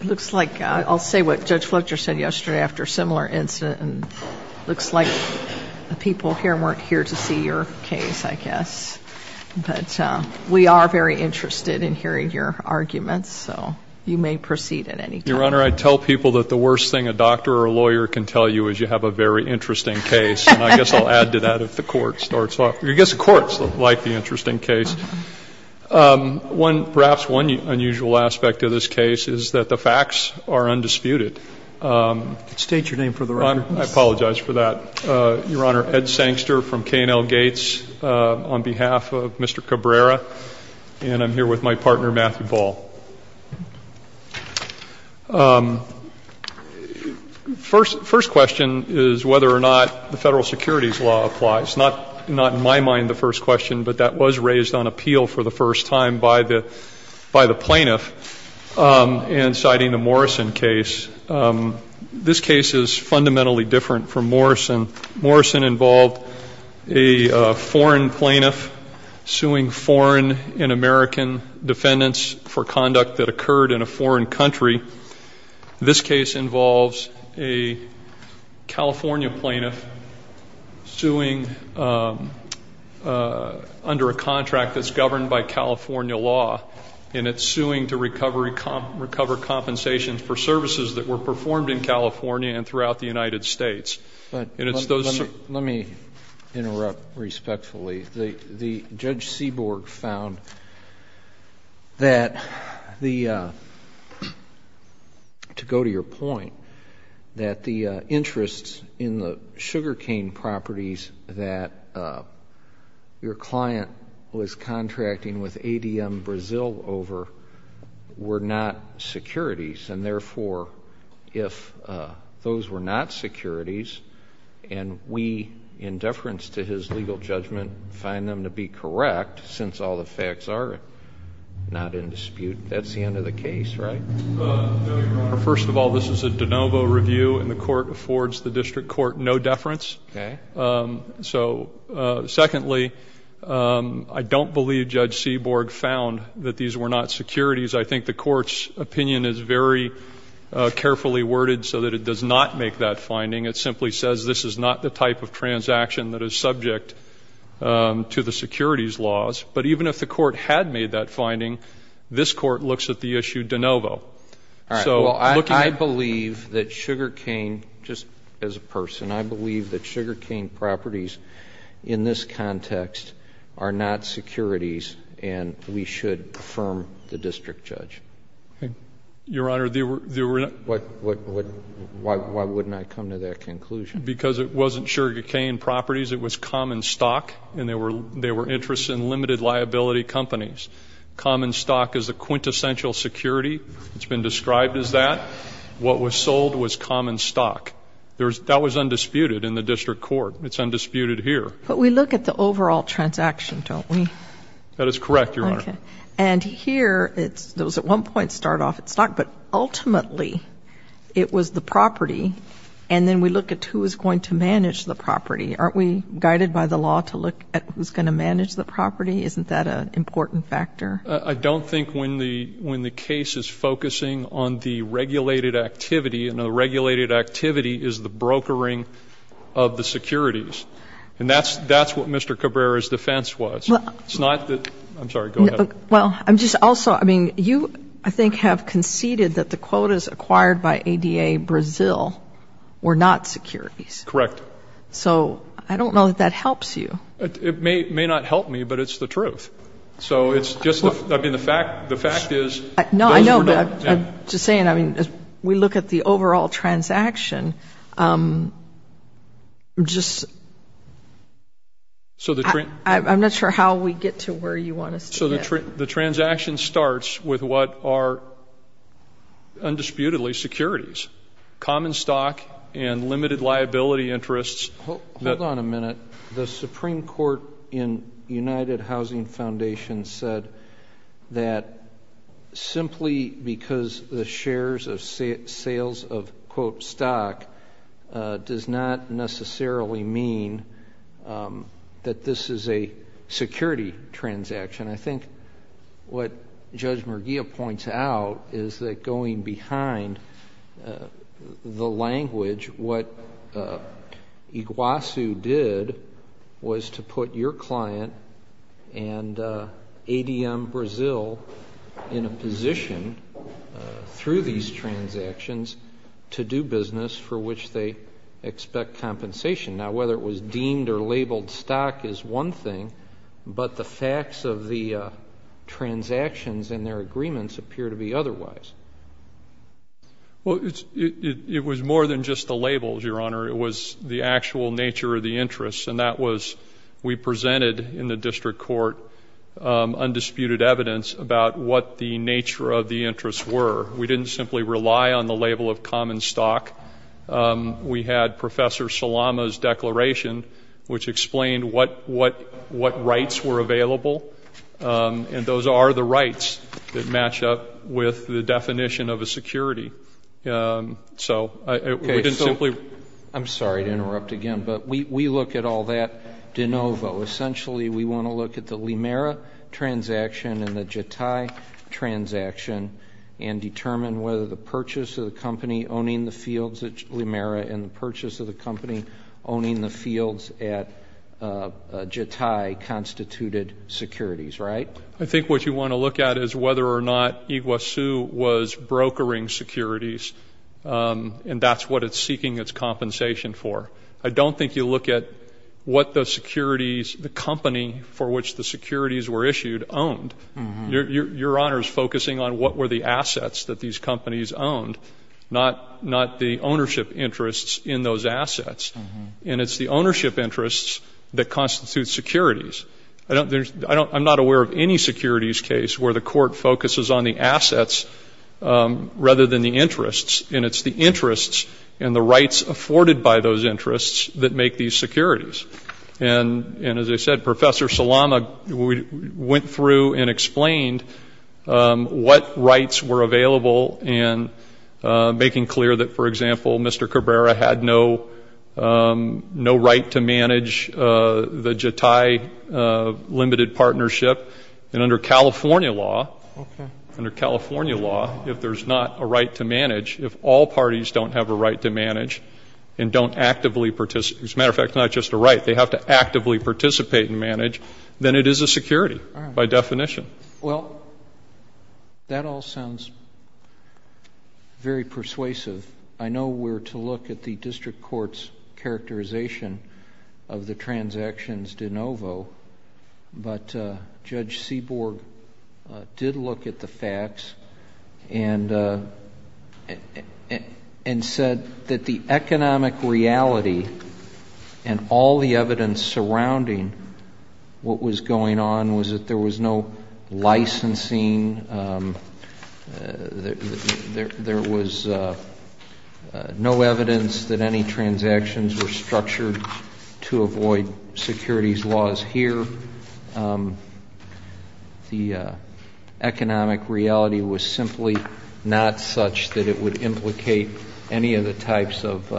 It looks like I'll say what Judge Fletcher said yesterday after a similar incident, and it looks like the people here weren't here to see your case, I guess. But we are very interested in hearing your arguments, so you may proceed at any time. Your Honor, I tell people that the worst thing a doctor or a lawyer can tell you is you have a very interesting case, and I guess I'll add to that if the court starts off. I guess the courts like the interesting case. Perhaps one unusual aspect of this case is that the facts are undisputed. State your name for the record, please. I apologize for that. Your Honor, Ed Sangster from K&L Gates on behalf of Mr. Cabrera, and I'm here with my partner, Matthew Ball. First question is whether or not the federal securities law applies. Not in my opinion, but it was raised on appeal for the first time by the plaintiff in citing the Morrison case. This case is fundamentally different from Morrison. Morrison involved a foreign plaintiff suing foreign and American defendants for conduct that occurred in a foreign country. This case involves a California plaintiff suing under a contract that's governed by California law, and it's suing to recover compensation for services that were performed in California and throughout the United States. Let me interrupt respectfully. Judge Seaborg found that the, to go to your point, that the interests in the sugar cane properties that your client was contracting with ADM Brazil over were not securities, and therefore, if those were not securities and we, in deference to his legal judgment, find them to be correct, since all the facts are not in dispute, that's the end of the case, right? First of all, this is a de novo review, and the court affords the district court no deference. So secondly, I don't believe Judge Seaborg found that these were not securities. I think the court's opinion is very carefully worded so that it does not make that finding. It simply says this is not the type of transaction that is subject to the securities laws. But even if the court had made that finding, this court looks at the issue de novo. All right. Well, I believe that sugar cane, just as a person, I believe that sugar cane properties in this context are not securities, and we should affirm the district judge. Your Honor, they were not. Why wouldn't I come to that conclusion? Because it wasn't sugar cane properties. It was common stock, and there were interests in limited liability companies. Common stock is a quintessential security. It's been described as that. What was sold was common stock. That was undisputed in the district court. It's undisputed here. But we look at the overall transaction, don't we? That is correct, Your Honor. And here, those at one point start off at stock, but ultimately it was the property, and then we look at who is going to manage the property. Aren't we guided by the law to look at who's going to manage the property? Isn't that an important factor? I don't think when the case is focusing on the regulated activity, and the regulated activity is the brokering of the securities. And that's what Mr. Cabrera's defense was. You, I think, have conceded that the quotas acquired by ADA Brazil were not securities. Correct. So I don't know if that helps you. It may not help me, but it's the truth. So it's just, I mean, the fact is No, I know, but I'm just saying, I mean, as we look at the overall transaction, just, I'm not sure how we get to where you want us to get. So the transaction starts with what are, undisputedly, securities. Common stock and limited liability interests. The Supreme Court in United Housing Foundation said that simply because the shares of sales of quote stock does not necessarily mean that this is a security transaction. I think what Judge Merguia points out is that going behind the language, what Iguazu did was to put your client and ADM Brazil in a position through these transactions to do business for which they expect compensation. Now, whether it was deemed or labeled stock is one thing, but the facts of the transactions and their agreements appear to be otherwise. Well, it was more than just the labels, Your Honor. It was the actual nature of the interests, and that was we presented in the district court undisputed evidence about what the nature of the interests were. We didn't simply rely on the label of common stock. We had Professor Salama's declaration, which explained what rights were available, and those are the rights that match up with the definition of a security. So we didn't simply. I'm sorry to interrupt again, but we look at all that de novo. Essentially, we want to look at the Limera transaction and the Jatai transaction and determine whether the purchase of the company owning the fields at Jatai constituted securities, right? I think what you want to look at is whether or not Iguazu was brokering securities, and that's what it's seeking its compensation for. I don't think you look at what the securities, the company for which the securities were issued owned. Your Honor is focusing on what were the assets that these companies owned, not the ownership interests in those assets. And it's the ownership interests that constitute securities. I'm not aware of any securities case where the court focuses on the assets rather than the interests, and it's the interests and the rights afforded by those interests that make these securities. And as I said, Professor Salama went through and explained what rights were available and making clear that, for example, Mr. Cabrera had no right to manage the Jatai Limited Partnership. And under California law, under California law, if there's not a right to manage, if all parties don't have a right to manage and don't actively participate, as a matter of fact, not just a right, they have to actively participate and manage, then it is a security by definition. Well, that all sounds very persuasive. I know we're to look at the district court's characterization of the transactions de novo, but Judge Seaborg did look at the facts and said that the economic reality and all the evidence surrounding what was going on was that there was no licensing, there was no evidence that any transactions were structured to avoid securities laws here. The economic reality was simply not such that it would implicate any of the types of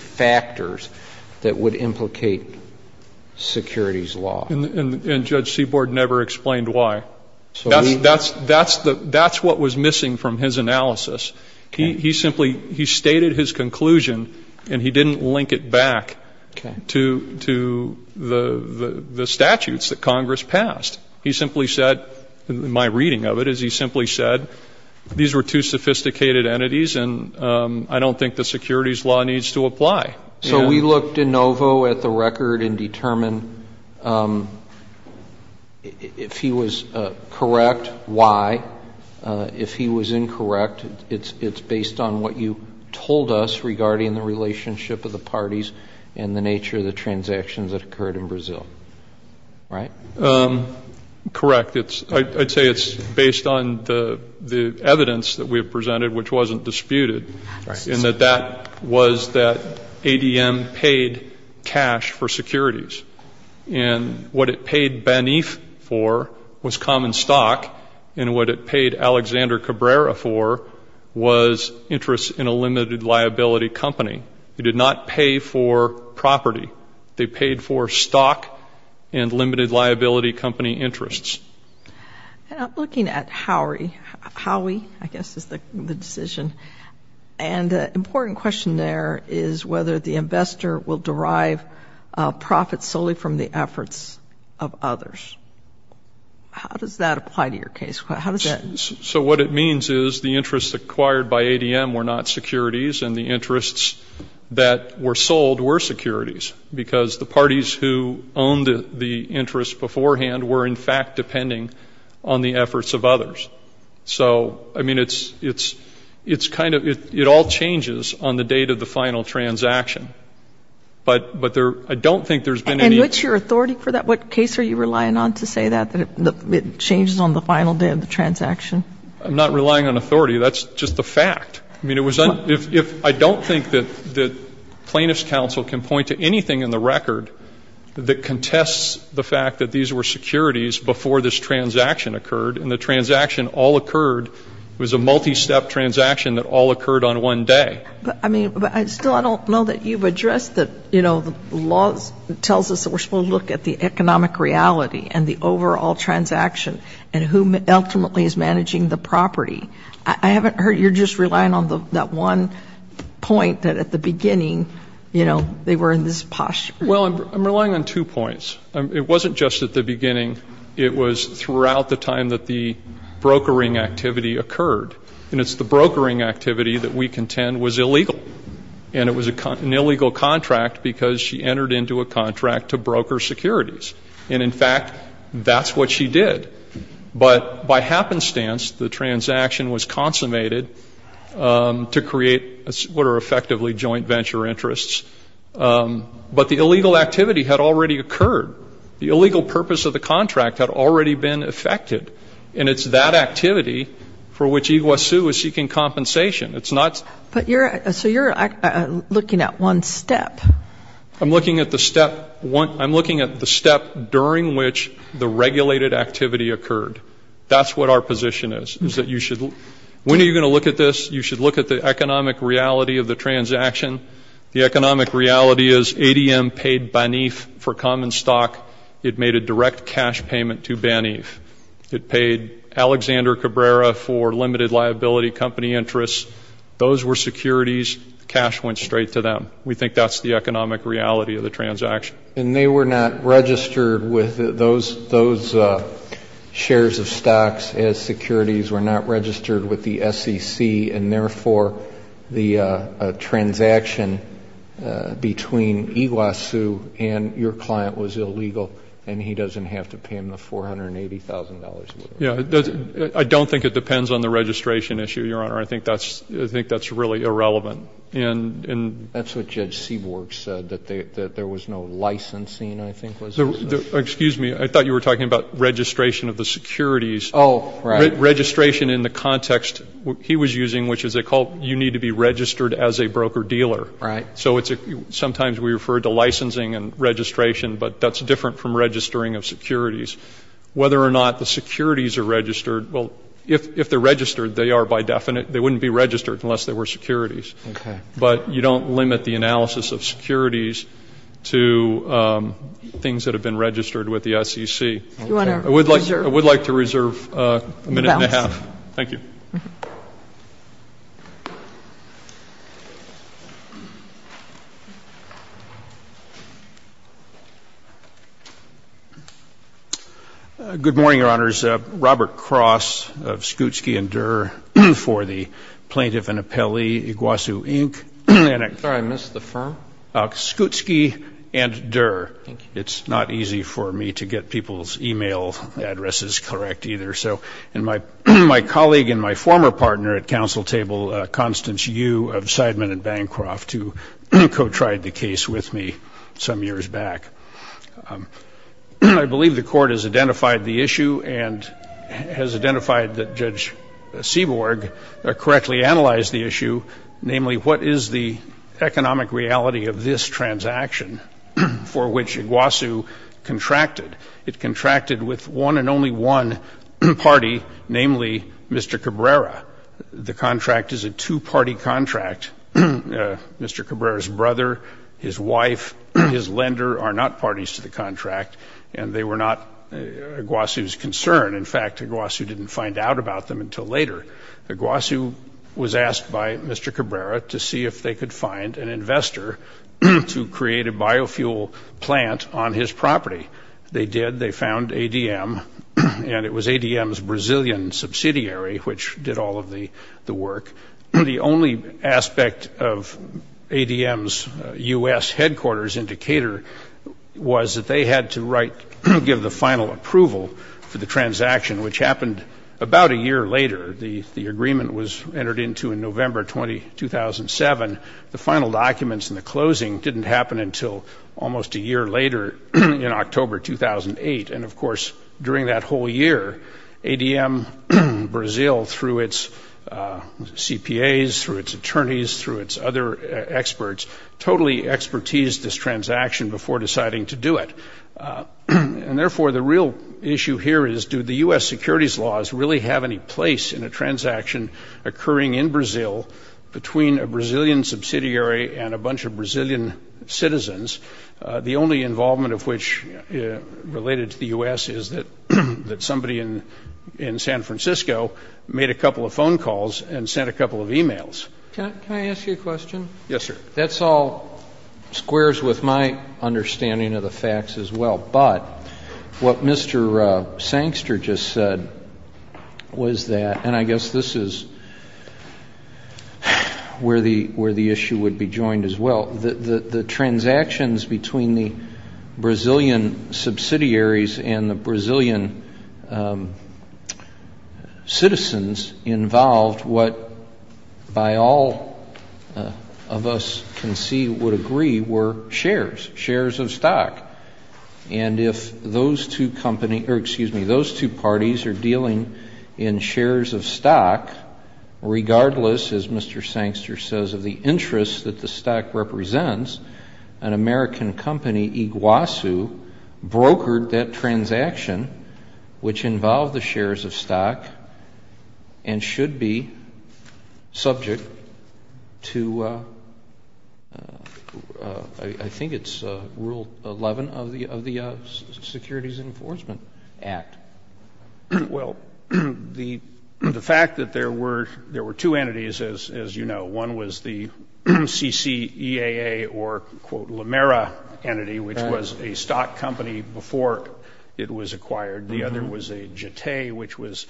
factors that would implicate securities law. And Judge Seaborg never explained why. That's what was missing from his analysis. He simply, he stated his understanding of the statutes that Congress passed. He simply said, in my reading of it, is he simply said these were two sophisticated entities and I don't think the securities law needs to apply. So we looked de novo at the record and determined if he was correct, why. If he was incorrect, it's based on what you told us regarding the case in Brazil, right? Correct. I'd say it's based on the evidence that we have presented, which wasn't disputed, in that that was that ADM paid cash for securities. And what it paid Baniff for was common stock, and what it paid Alexander Cabrera for was interest in a limited liability company who did not pay for property. They paid for stock and limited liability company interests. And I'm looking at Howie, I guess is the decision, and the important question there is whether the investor will derive profits solely from the efforts of others. How does that apply to your case? How does that apply to your case? So what it means is the interests acquired by ADM were not securities, and the interests that were sold were securities, because the parties who owned the interests beforehand were, in fact, depending on the efforts of others. So, I mean, it's kind of, it all changes on the date of the final transaction. But there, I don't think there's been any And what's your authority for that? What case are you relying on to say that, that it changes on the final day of the transaction? I'm not relying on authority. That's just a fact. I mean, it was, I don't think that plaintiff's counsel can point to anything in the record that contests the fact that these were securities before this transaction occurred, and the transaction all occurred. It was a multi-step transaction that all occurred on one day. But, I mean, still I don't know that you've addressed that, you know, the law tells us that we're supposed to look at the economic reality and the overall transaction and who ultimately is managing the property. I haven't heard you're just relying on that one point that at the beginning, you know, they were in this posh. Well, I'm relying on two points. It wasn't just at the beginning. It was throughout the time that the brokering activity occurred. And it's the brokering activity that we contend was illegal. And it was an illegal contract because she entered into a contract to broker securities. And, in fact, that's what she did. But by happenstance, the transaction was consummated to create what are effectively joint venture interests. But the illegal activity had already occurred. The illegal purpose of the contract had already been effected. And it's that activity for which Iguaçu is seeking compensation. It's not. But you're, so you're looking at one step. I'm looking at the step, I'm looking at the step during which the regulated activity occurred. That's what our position is, is that you should, when are you of the transaction. The economic reality is ADM paid Baniff for common stock. It made a direct cash payment to Baniff. It paid Alexander Cabrera for limited liability company interests. Those were securities. Cash went straight to them. We think that's the economic reality of the transaction. And they were not registered with those shares of stocks as securities, were not registered with those shares of stocks. So the transaction between Iguaçu and your client was illegal, and he doesn't have to pay him the $480,000? Yeah. I don't think it depends on the registration issue, Your Honor. I think that's really irrelevant. That's what Judge Seaborg said, that there was no licensing, I think, was it? Excuse me. I thought you were talking about registration of the securities. Oh, right. Registration in the context he was using, which is you need to be registered as a broker-dealer. Right. So sometimes we refer to licensing and registration, but that's different from registering of securities. Whether or not the securities are registered, well, if they're registered, they are by definite. They wouldn't be registered unless they were securities. Okay. But you don't limit the analysis of securities to things that have been registered with the SEC. Okay. Do you want to reserve? I would like to reserve a minute and a half. Thank you. Good morning, Your Honors. Robert Cross of Skutski & Durer for the plaintiff and appellee, Iguaçu, Inc. I'm sorry. I missed the firm. Skutski & Durer. Thank you. It's not easy for me to get people's e-mail addresses correct either. So my colleague and my former partner at council table, Constance Yu of Seidman & Bancroft, who co-tried the case with me some years back, I believe the court has identified the issue and has identified that Judge Seaborg correctly analyzed the issue, namely, what is the economic reality of this transaction for which Iguaçu contracted. It contracted with one and only one party, namely, Mr. Cabrera. The contract is a two-party contract. Mr. Cabrera's brother, his wife, his lender are not parties to the contract, and they were not Iguaçu's concern. In fact, Iguaçu didn't find out about them until later. Iguaçu was asked by Mr. Cabrera to see if they could find an investor to create a fossil fuel plant on his property. They did. They found ADM, and it was ADM's Brazilian subsidiary which did all of the work. The only aspect of ADM's U.S. headquarters in Decatur was that they had to write and give the final approval for the transaction, which happened about a year later. The agreement was entered into in November 2007. The final documents in the closing didn't happen until almost a year later in October 2008. And, of course, during that whole year, ADM Brazil, through its CPAs, through its attorneys, through its other experts, totally expertise this transaction before deciding to do it. And, therefore, the real issue here is do the U.S. securities laws really have any place in a transaction occurring in Brazil between a Brazilian subsidiary and a bunch of Brazilian citizens, the only involvement of which related to the U.S. is that somebody in San Francisco made a couple of phone calls and sent a couple of e-mails. Can I ask you a question? Yes, sir. That all squares with my understanding of the facts as well. But what Mr. Sangster just said was that, and I guess this is where the issue would be joined as well, that the transactions between the Brazilian subsidiaries and the Brazilian citizens involved what by all of us can see would agree were shares, shares of stock. And if those two parties are dealing in shares of stock, regardless, as Mr. Sangster says, of the interest that the stock represents, an American company, Iguazu, brokered that transaction, which involved the shares of stock, and should be subject to I think it's Rule 11 of the Securities Enforcement Act. Well, the fact that there were two entities, as you know, one was the CCEAA or, quote, La Mera entity, which was a stock company before it was acquired. The other was a JETE, which was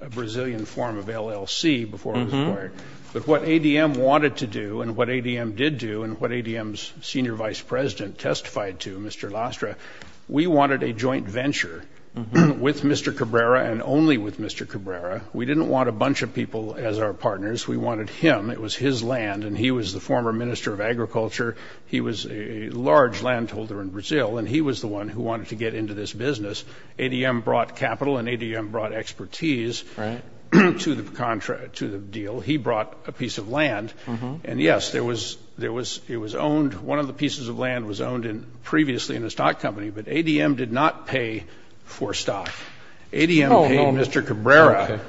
a Brazilian form of LLC before it was acquired. But what ADM wanted to do and what ADM did do and what ADM's senior vice president testified to, Mr. Lastra, we wanted a joint venture with Mr. Cabrera and only with Mr. Cabrera. We didn't want a bunch of people as our partners. We wanted him. It was his land, and he was the former minister of agriculture. He was a large landholder in Brazil, and he was the one who wanted to get into this business. ADM brought capital and ADM brought expertise to the deal. He brought a piece of land. And, yes, it was owned, one of the pieces of land was owned previously in a stock company, but ADM did not pay for stock. ADM paid Mr. Cabrera.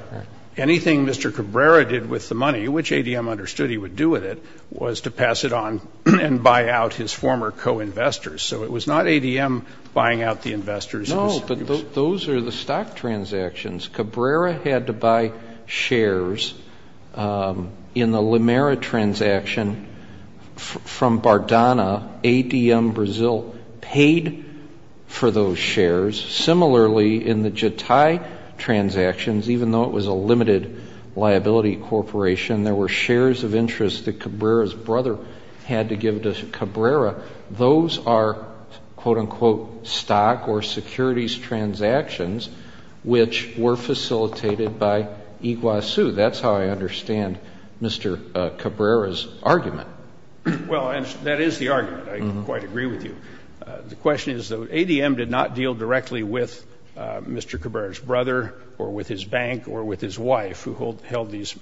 Anything Mr. Cabrera did with the money, which ADM understood he would do with it, was to pass it on and buy out his former co-investors. So it was not ADM buying out the investors. No, but those are the stock transactions. Cabrera had to buy shares in the Limera transaction from Bardana. ADM Brazil paid for those shares. Similarly, in the Jatai transactions, even though it was a limited liability corporation, there were shares of interest that Cabrera's brother had to give to Cabrera. Those are, quote-unquote, stock or securities transactions which were facilitated by Iguazu. That's how I understand Mr. Cabrera's argument. Well, that is the argument. I quite agree with you. The question is, though, ADM did not deal directly with Mr. Cabrera's brother or with his bank or with his wife, who held these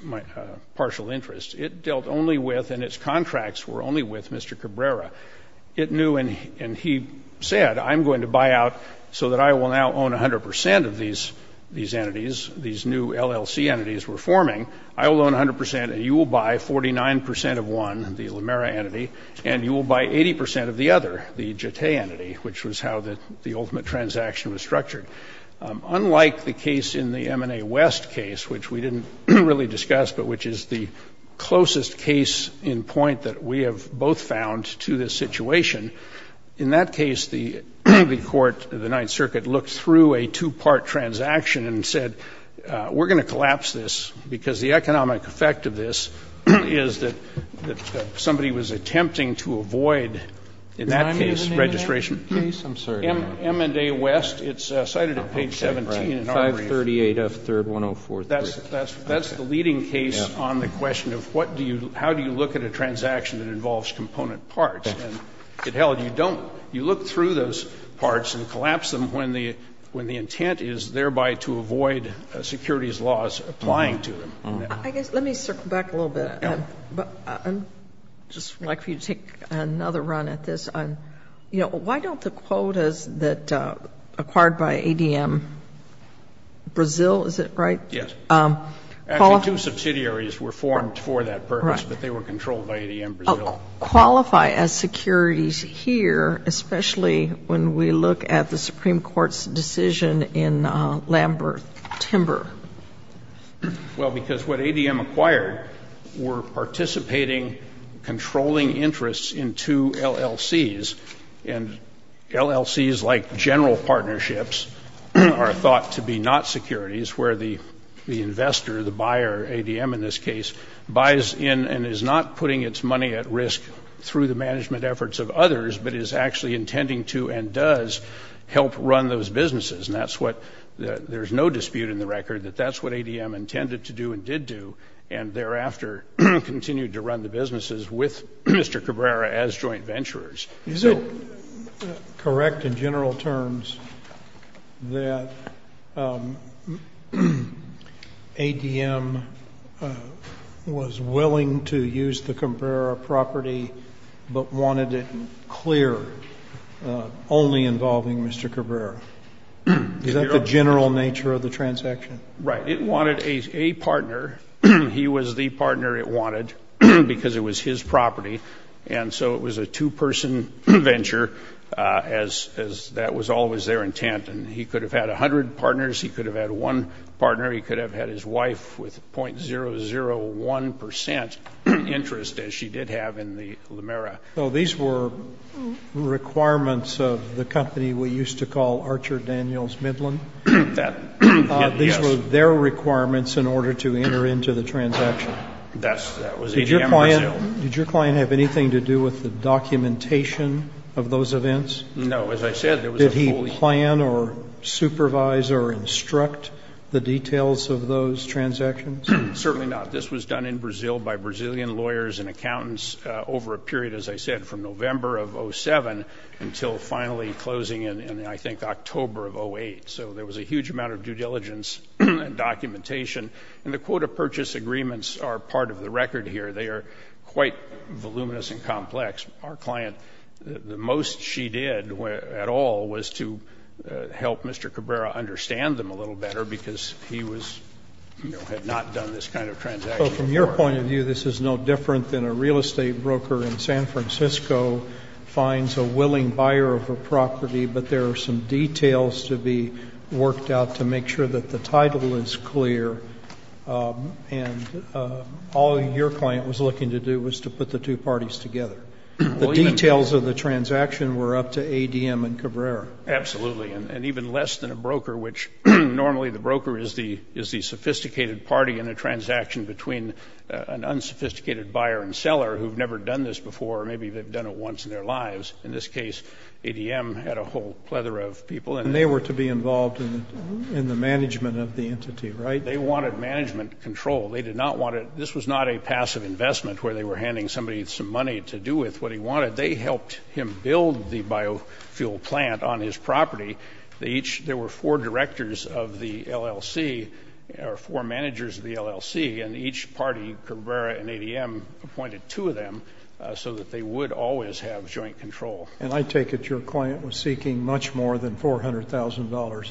partial interests. It dealt only with and its contracts were only with Mr. Cabrera. It knew and he said, I'm going to buy out so that I will now own 100 percent of these entities, these new LLC entities we're forming. I will own 100 percent and you will buy 49 percent of one, the Limera entity, and you will buy 80 percent of the other, the Jatai entity, which was how the ultimate transaction was structured. Unlike the case in the M&A West case, which we didn't really discuss, but which is the closest case in point that we have both found to this situation, in that case the court, the Ninth Circuit, looked through a two-part transaction and said, we're going to collapse this because the economic effect of this is that somebody was attempting to avoid, in that case, registration. Can I move an M&A West case? I'm sorry. M&A West. It's cited at page 17 in our brief. 538F3-1043. That's the leading case on the question of how do you look at a transaction that involves component parts. And, hell, you don't. You look through those parts and collapse them when the intent is thereby to avoid securities laws applying to them. I guess let me circle back a little bit. I'd just like for you to take another run at this. You know, why don't the quotas that acquired by ADM Brazil, is it right? Yes. Actually, two subsidiaries were formed for that purpose, but they were controlled by ADM Brazil. Qualify as securities here, especially when we look at the Supreme Court's decision in Lamberth Timber. Well, because what ADM acquired were participating, controlling interests in two LLCs, and LLCs like general partnerships are thought to be not securities where the investor, the buyer, ADM in this case, buys in and is not putting its money at risk through the management efforts of others, but is actually intending to and does help run those businesses. And that's what — there's no dispute in the record that that's what ADM intended to do and did do, and thereafter continued to run the businesses with Mr. Cabrera as joint venturers. Is it correct in general terms that ADM was willing to use the Cabrera property but wanted it clear, only involving Mr. Cabrera? Is that the general nature of the transaction? Right. It wanted a partner. He was the partner it wanted because it was his property, and so it was a two-person venture, as that was always their intent. And he could have had 100 partners. He could have had one partner. He could have had his wife with .001 percent interest, as she did have in the Lamera. So these were requirements of the company we used to call Archer Daniels Midland? That — yes. These were their requirements in order to enter into the transaction? That was ADM Brazil. Did your client have anything to do with the documentation of those events? No. As I said, it was a fully — Did he plan or supervise or instruct the details of those transactions? Certainly not. This was done in Brazil by Brazilian lawyers and accountants over a period, as I said, from November of 2007 until finally closing in, I think, October of 2008. So there was a huge amount of due diligence and documentation. And the quota purchase agreements are part of the record here. They are quite voluminous and complex. Our client, the most she did at all was to help Mr. Cabrera understand them a little better, because he was — had not done this kind of transaction before. So from your point of view, this is no different than a real estate broker in San Francisco finds a willing buyer of a property, but there are some details to be worked out to make sure that the title is clear. And all your client was looking to do was to put the two parties together. The details of the transaction were up to ADM and Cabrera. Absolutely. And even less than a broker, which normally the broker is the sophisticated party in a transaction between an unsophisticated buyer and seller who have never done this before, or maybe they have done it once in their lives. In this case, ADM had a whole plethora of people. And they were to be involved in the management of the entity, right? They wanted management control. They did not want to — this was not a passive investment where they were handing somebody some money to do with what he wanted. They helped him build the biofuel plant on his property. They each — there were four directors of the LLC, or four managers of the LLC, and each party, Cabrera and ADM, appointed two of them so that they would always have joint control. And I take it your client was seeking much more than $400,000.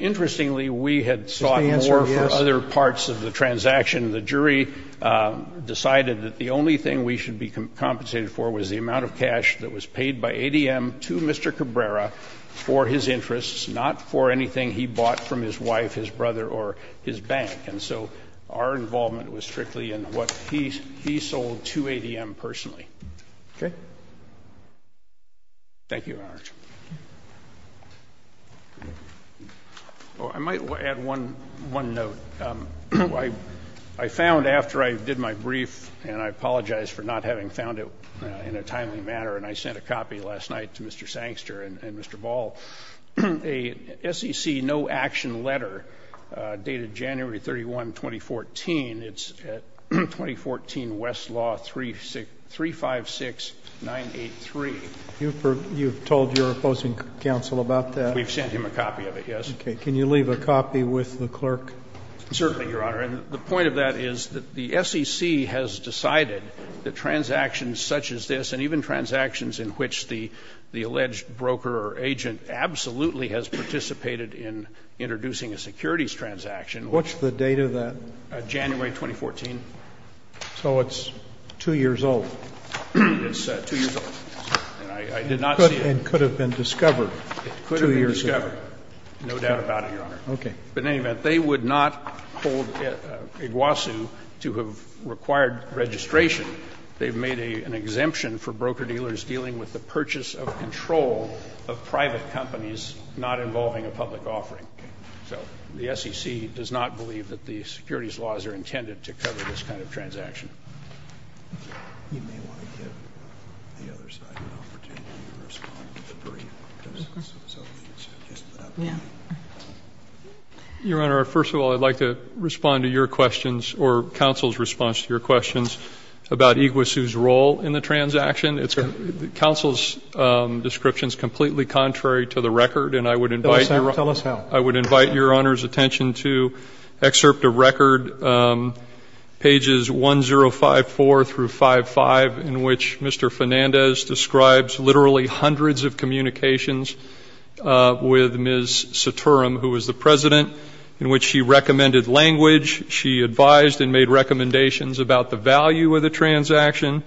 Interestingly, we had sought more for other parts of the transaction. The jury decided that the only thing we should be compensated for was the amount of cash that was paid by ADM to Mr. Cabrera for his interests, not for anything he bought from his wife, his brother, or his bank. And so our involvement was strictly in what he sold to ADM personally. Okay. Thank you, Your Honor. Well, I might add one note. I found, after I did my brief, and I apologize for not having found it in a timely manner, and I sent a copy last night to Mr. Sangster and Mr. Ball, a SEC no-action letter dated January 31, 2014. It's 2014 Westlaw 356983. You've told your opposing counsel about that? We've sent him a copy of it, yes. Okay. Can you leave a copy with the clerk? Certainly, Your Honor. And the point of that is that the SEC has decided that transactions such as this and even transactions in which the alleged broker or agent absolutely has participated in introducing a securities transaction. What's the date of that? January 2014. So it's two years old. It's two years old. And I did not see it. It could have been discovered two years ago. It could have been discovered. No doubt about it, Your Honor. Okay. But in any event, they would not hold Iguasu to have required registration. They've made an exemption for broker-dealers dealing with the purchase of control of private companies not involving a public offering. Okay. So the SEC does not believe that the securities laws are intended to cover this kind of transaction. Your Honor, first of all, I'd like to respond to your questions or counsel's response to your questions about Iguasu's role in the transaction. Counsel's description is completely contrary to the record. Tell us how. I would invite Your Honor's attention to Excerpt of Record, Pages 1-0-1, 054-55, in which Mr. Fernandez describes literally hundreds of communications with Ms. Saturam, who was the president, in which she recommended language. She advised and made recommendations about the value of the transaction.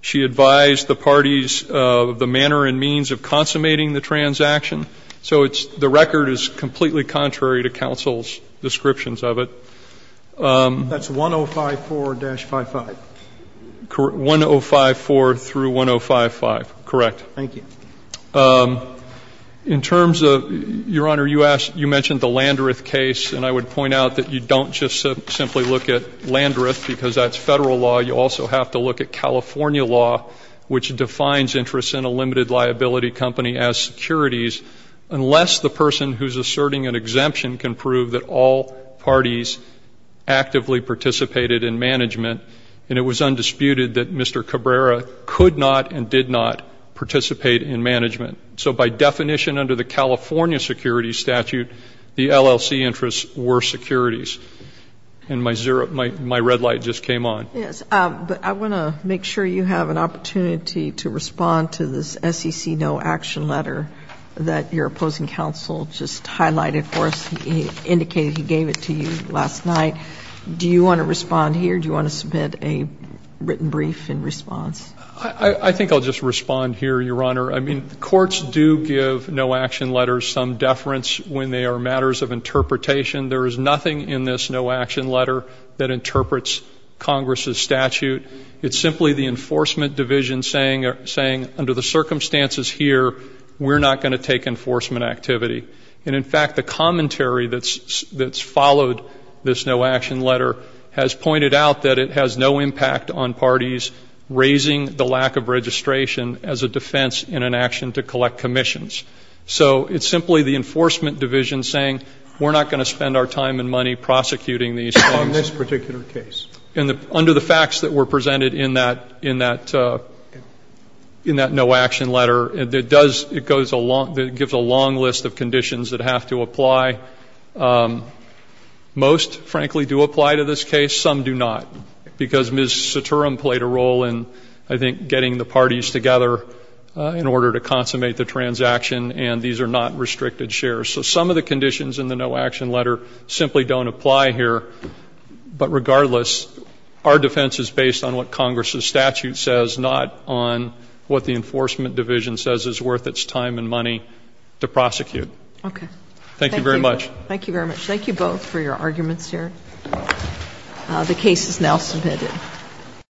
She advised the parties of the manner and means of consummating the transaction. So the record is completely contrary to counsel's descriptions of it. That's 1054-55? 1054 through 1055, correct. Thank you. In terms of, Your Honor, you mentioned the Landreth case, and I would point out that you don't just simply look at Landreth, because that's Federal law. You also have to look at California law, which defines interest in a limited liability company as securities, unless the person who's asserting an exemption can prove that all parties actively participated in management, and it was undisputed that Mr. Cabrera could not and did not participate in management. So by definition under the California security statute, the LLC interests were securities. And my red light just came on. Yes. But I want to make sure you have an opportunity to respond to this SEC no-action letter that your opposing counsel just highlighted for us. He indicated he gave it to you last night. Do you want to respond here? Do you want to submit a written brief in response? I think I'll just respond here, Your Honor. I mean, courts do give no-action letters some deference when they are matters of interpretation. There is nothing in this no-action letter that interprets Congress' statute. It's simply the enforcement division saying, under the circumstances here, we're not going to take enforcement activity. And, in fact, the commentary that's followed this no-action letter has pointed out that it has no impact on parties raising the lack of registration as a defense in an action to collect commissions. So it's simply the enforcement division saying, we're not going to spend our time and money prosecuting these things. In this particular case. Under the facts that were presented in that no-action letter, it gives a long list of conditions that have to apply. Most, frankly, do apply to this case. Some do not. Because Ms. Suturum played a role in, I think, getting the parties together in order to consummate the transaction. And these are not restricted shares. So some of the conditions in the no-action letter simply don't apply here. But, regardless, our defense is based on what Congress' statute says, not on what the enforcement division says is worth its time and money to prosecute. Okay. Thank you very much. Thank you very much. Thank you both for your arguments here. The case is now submitted.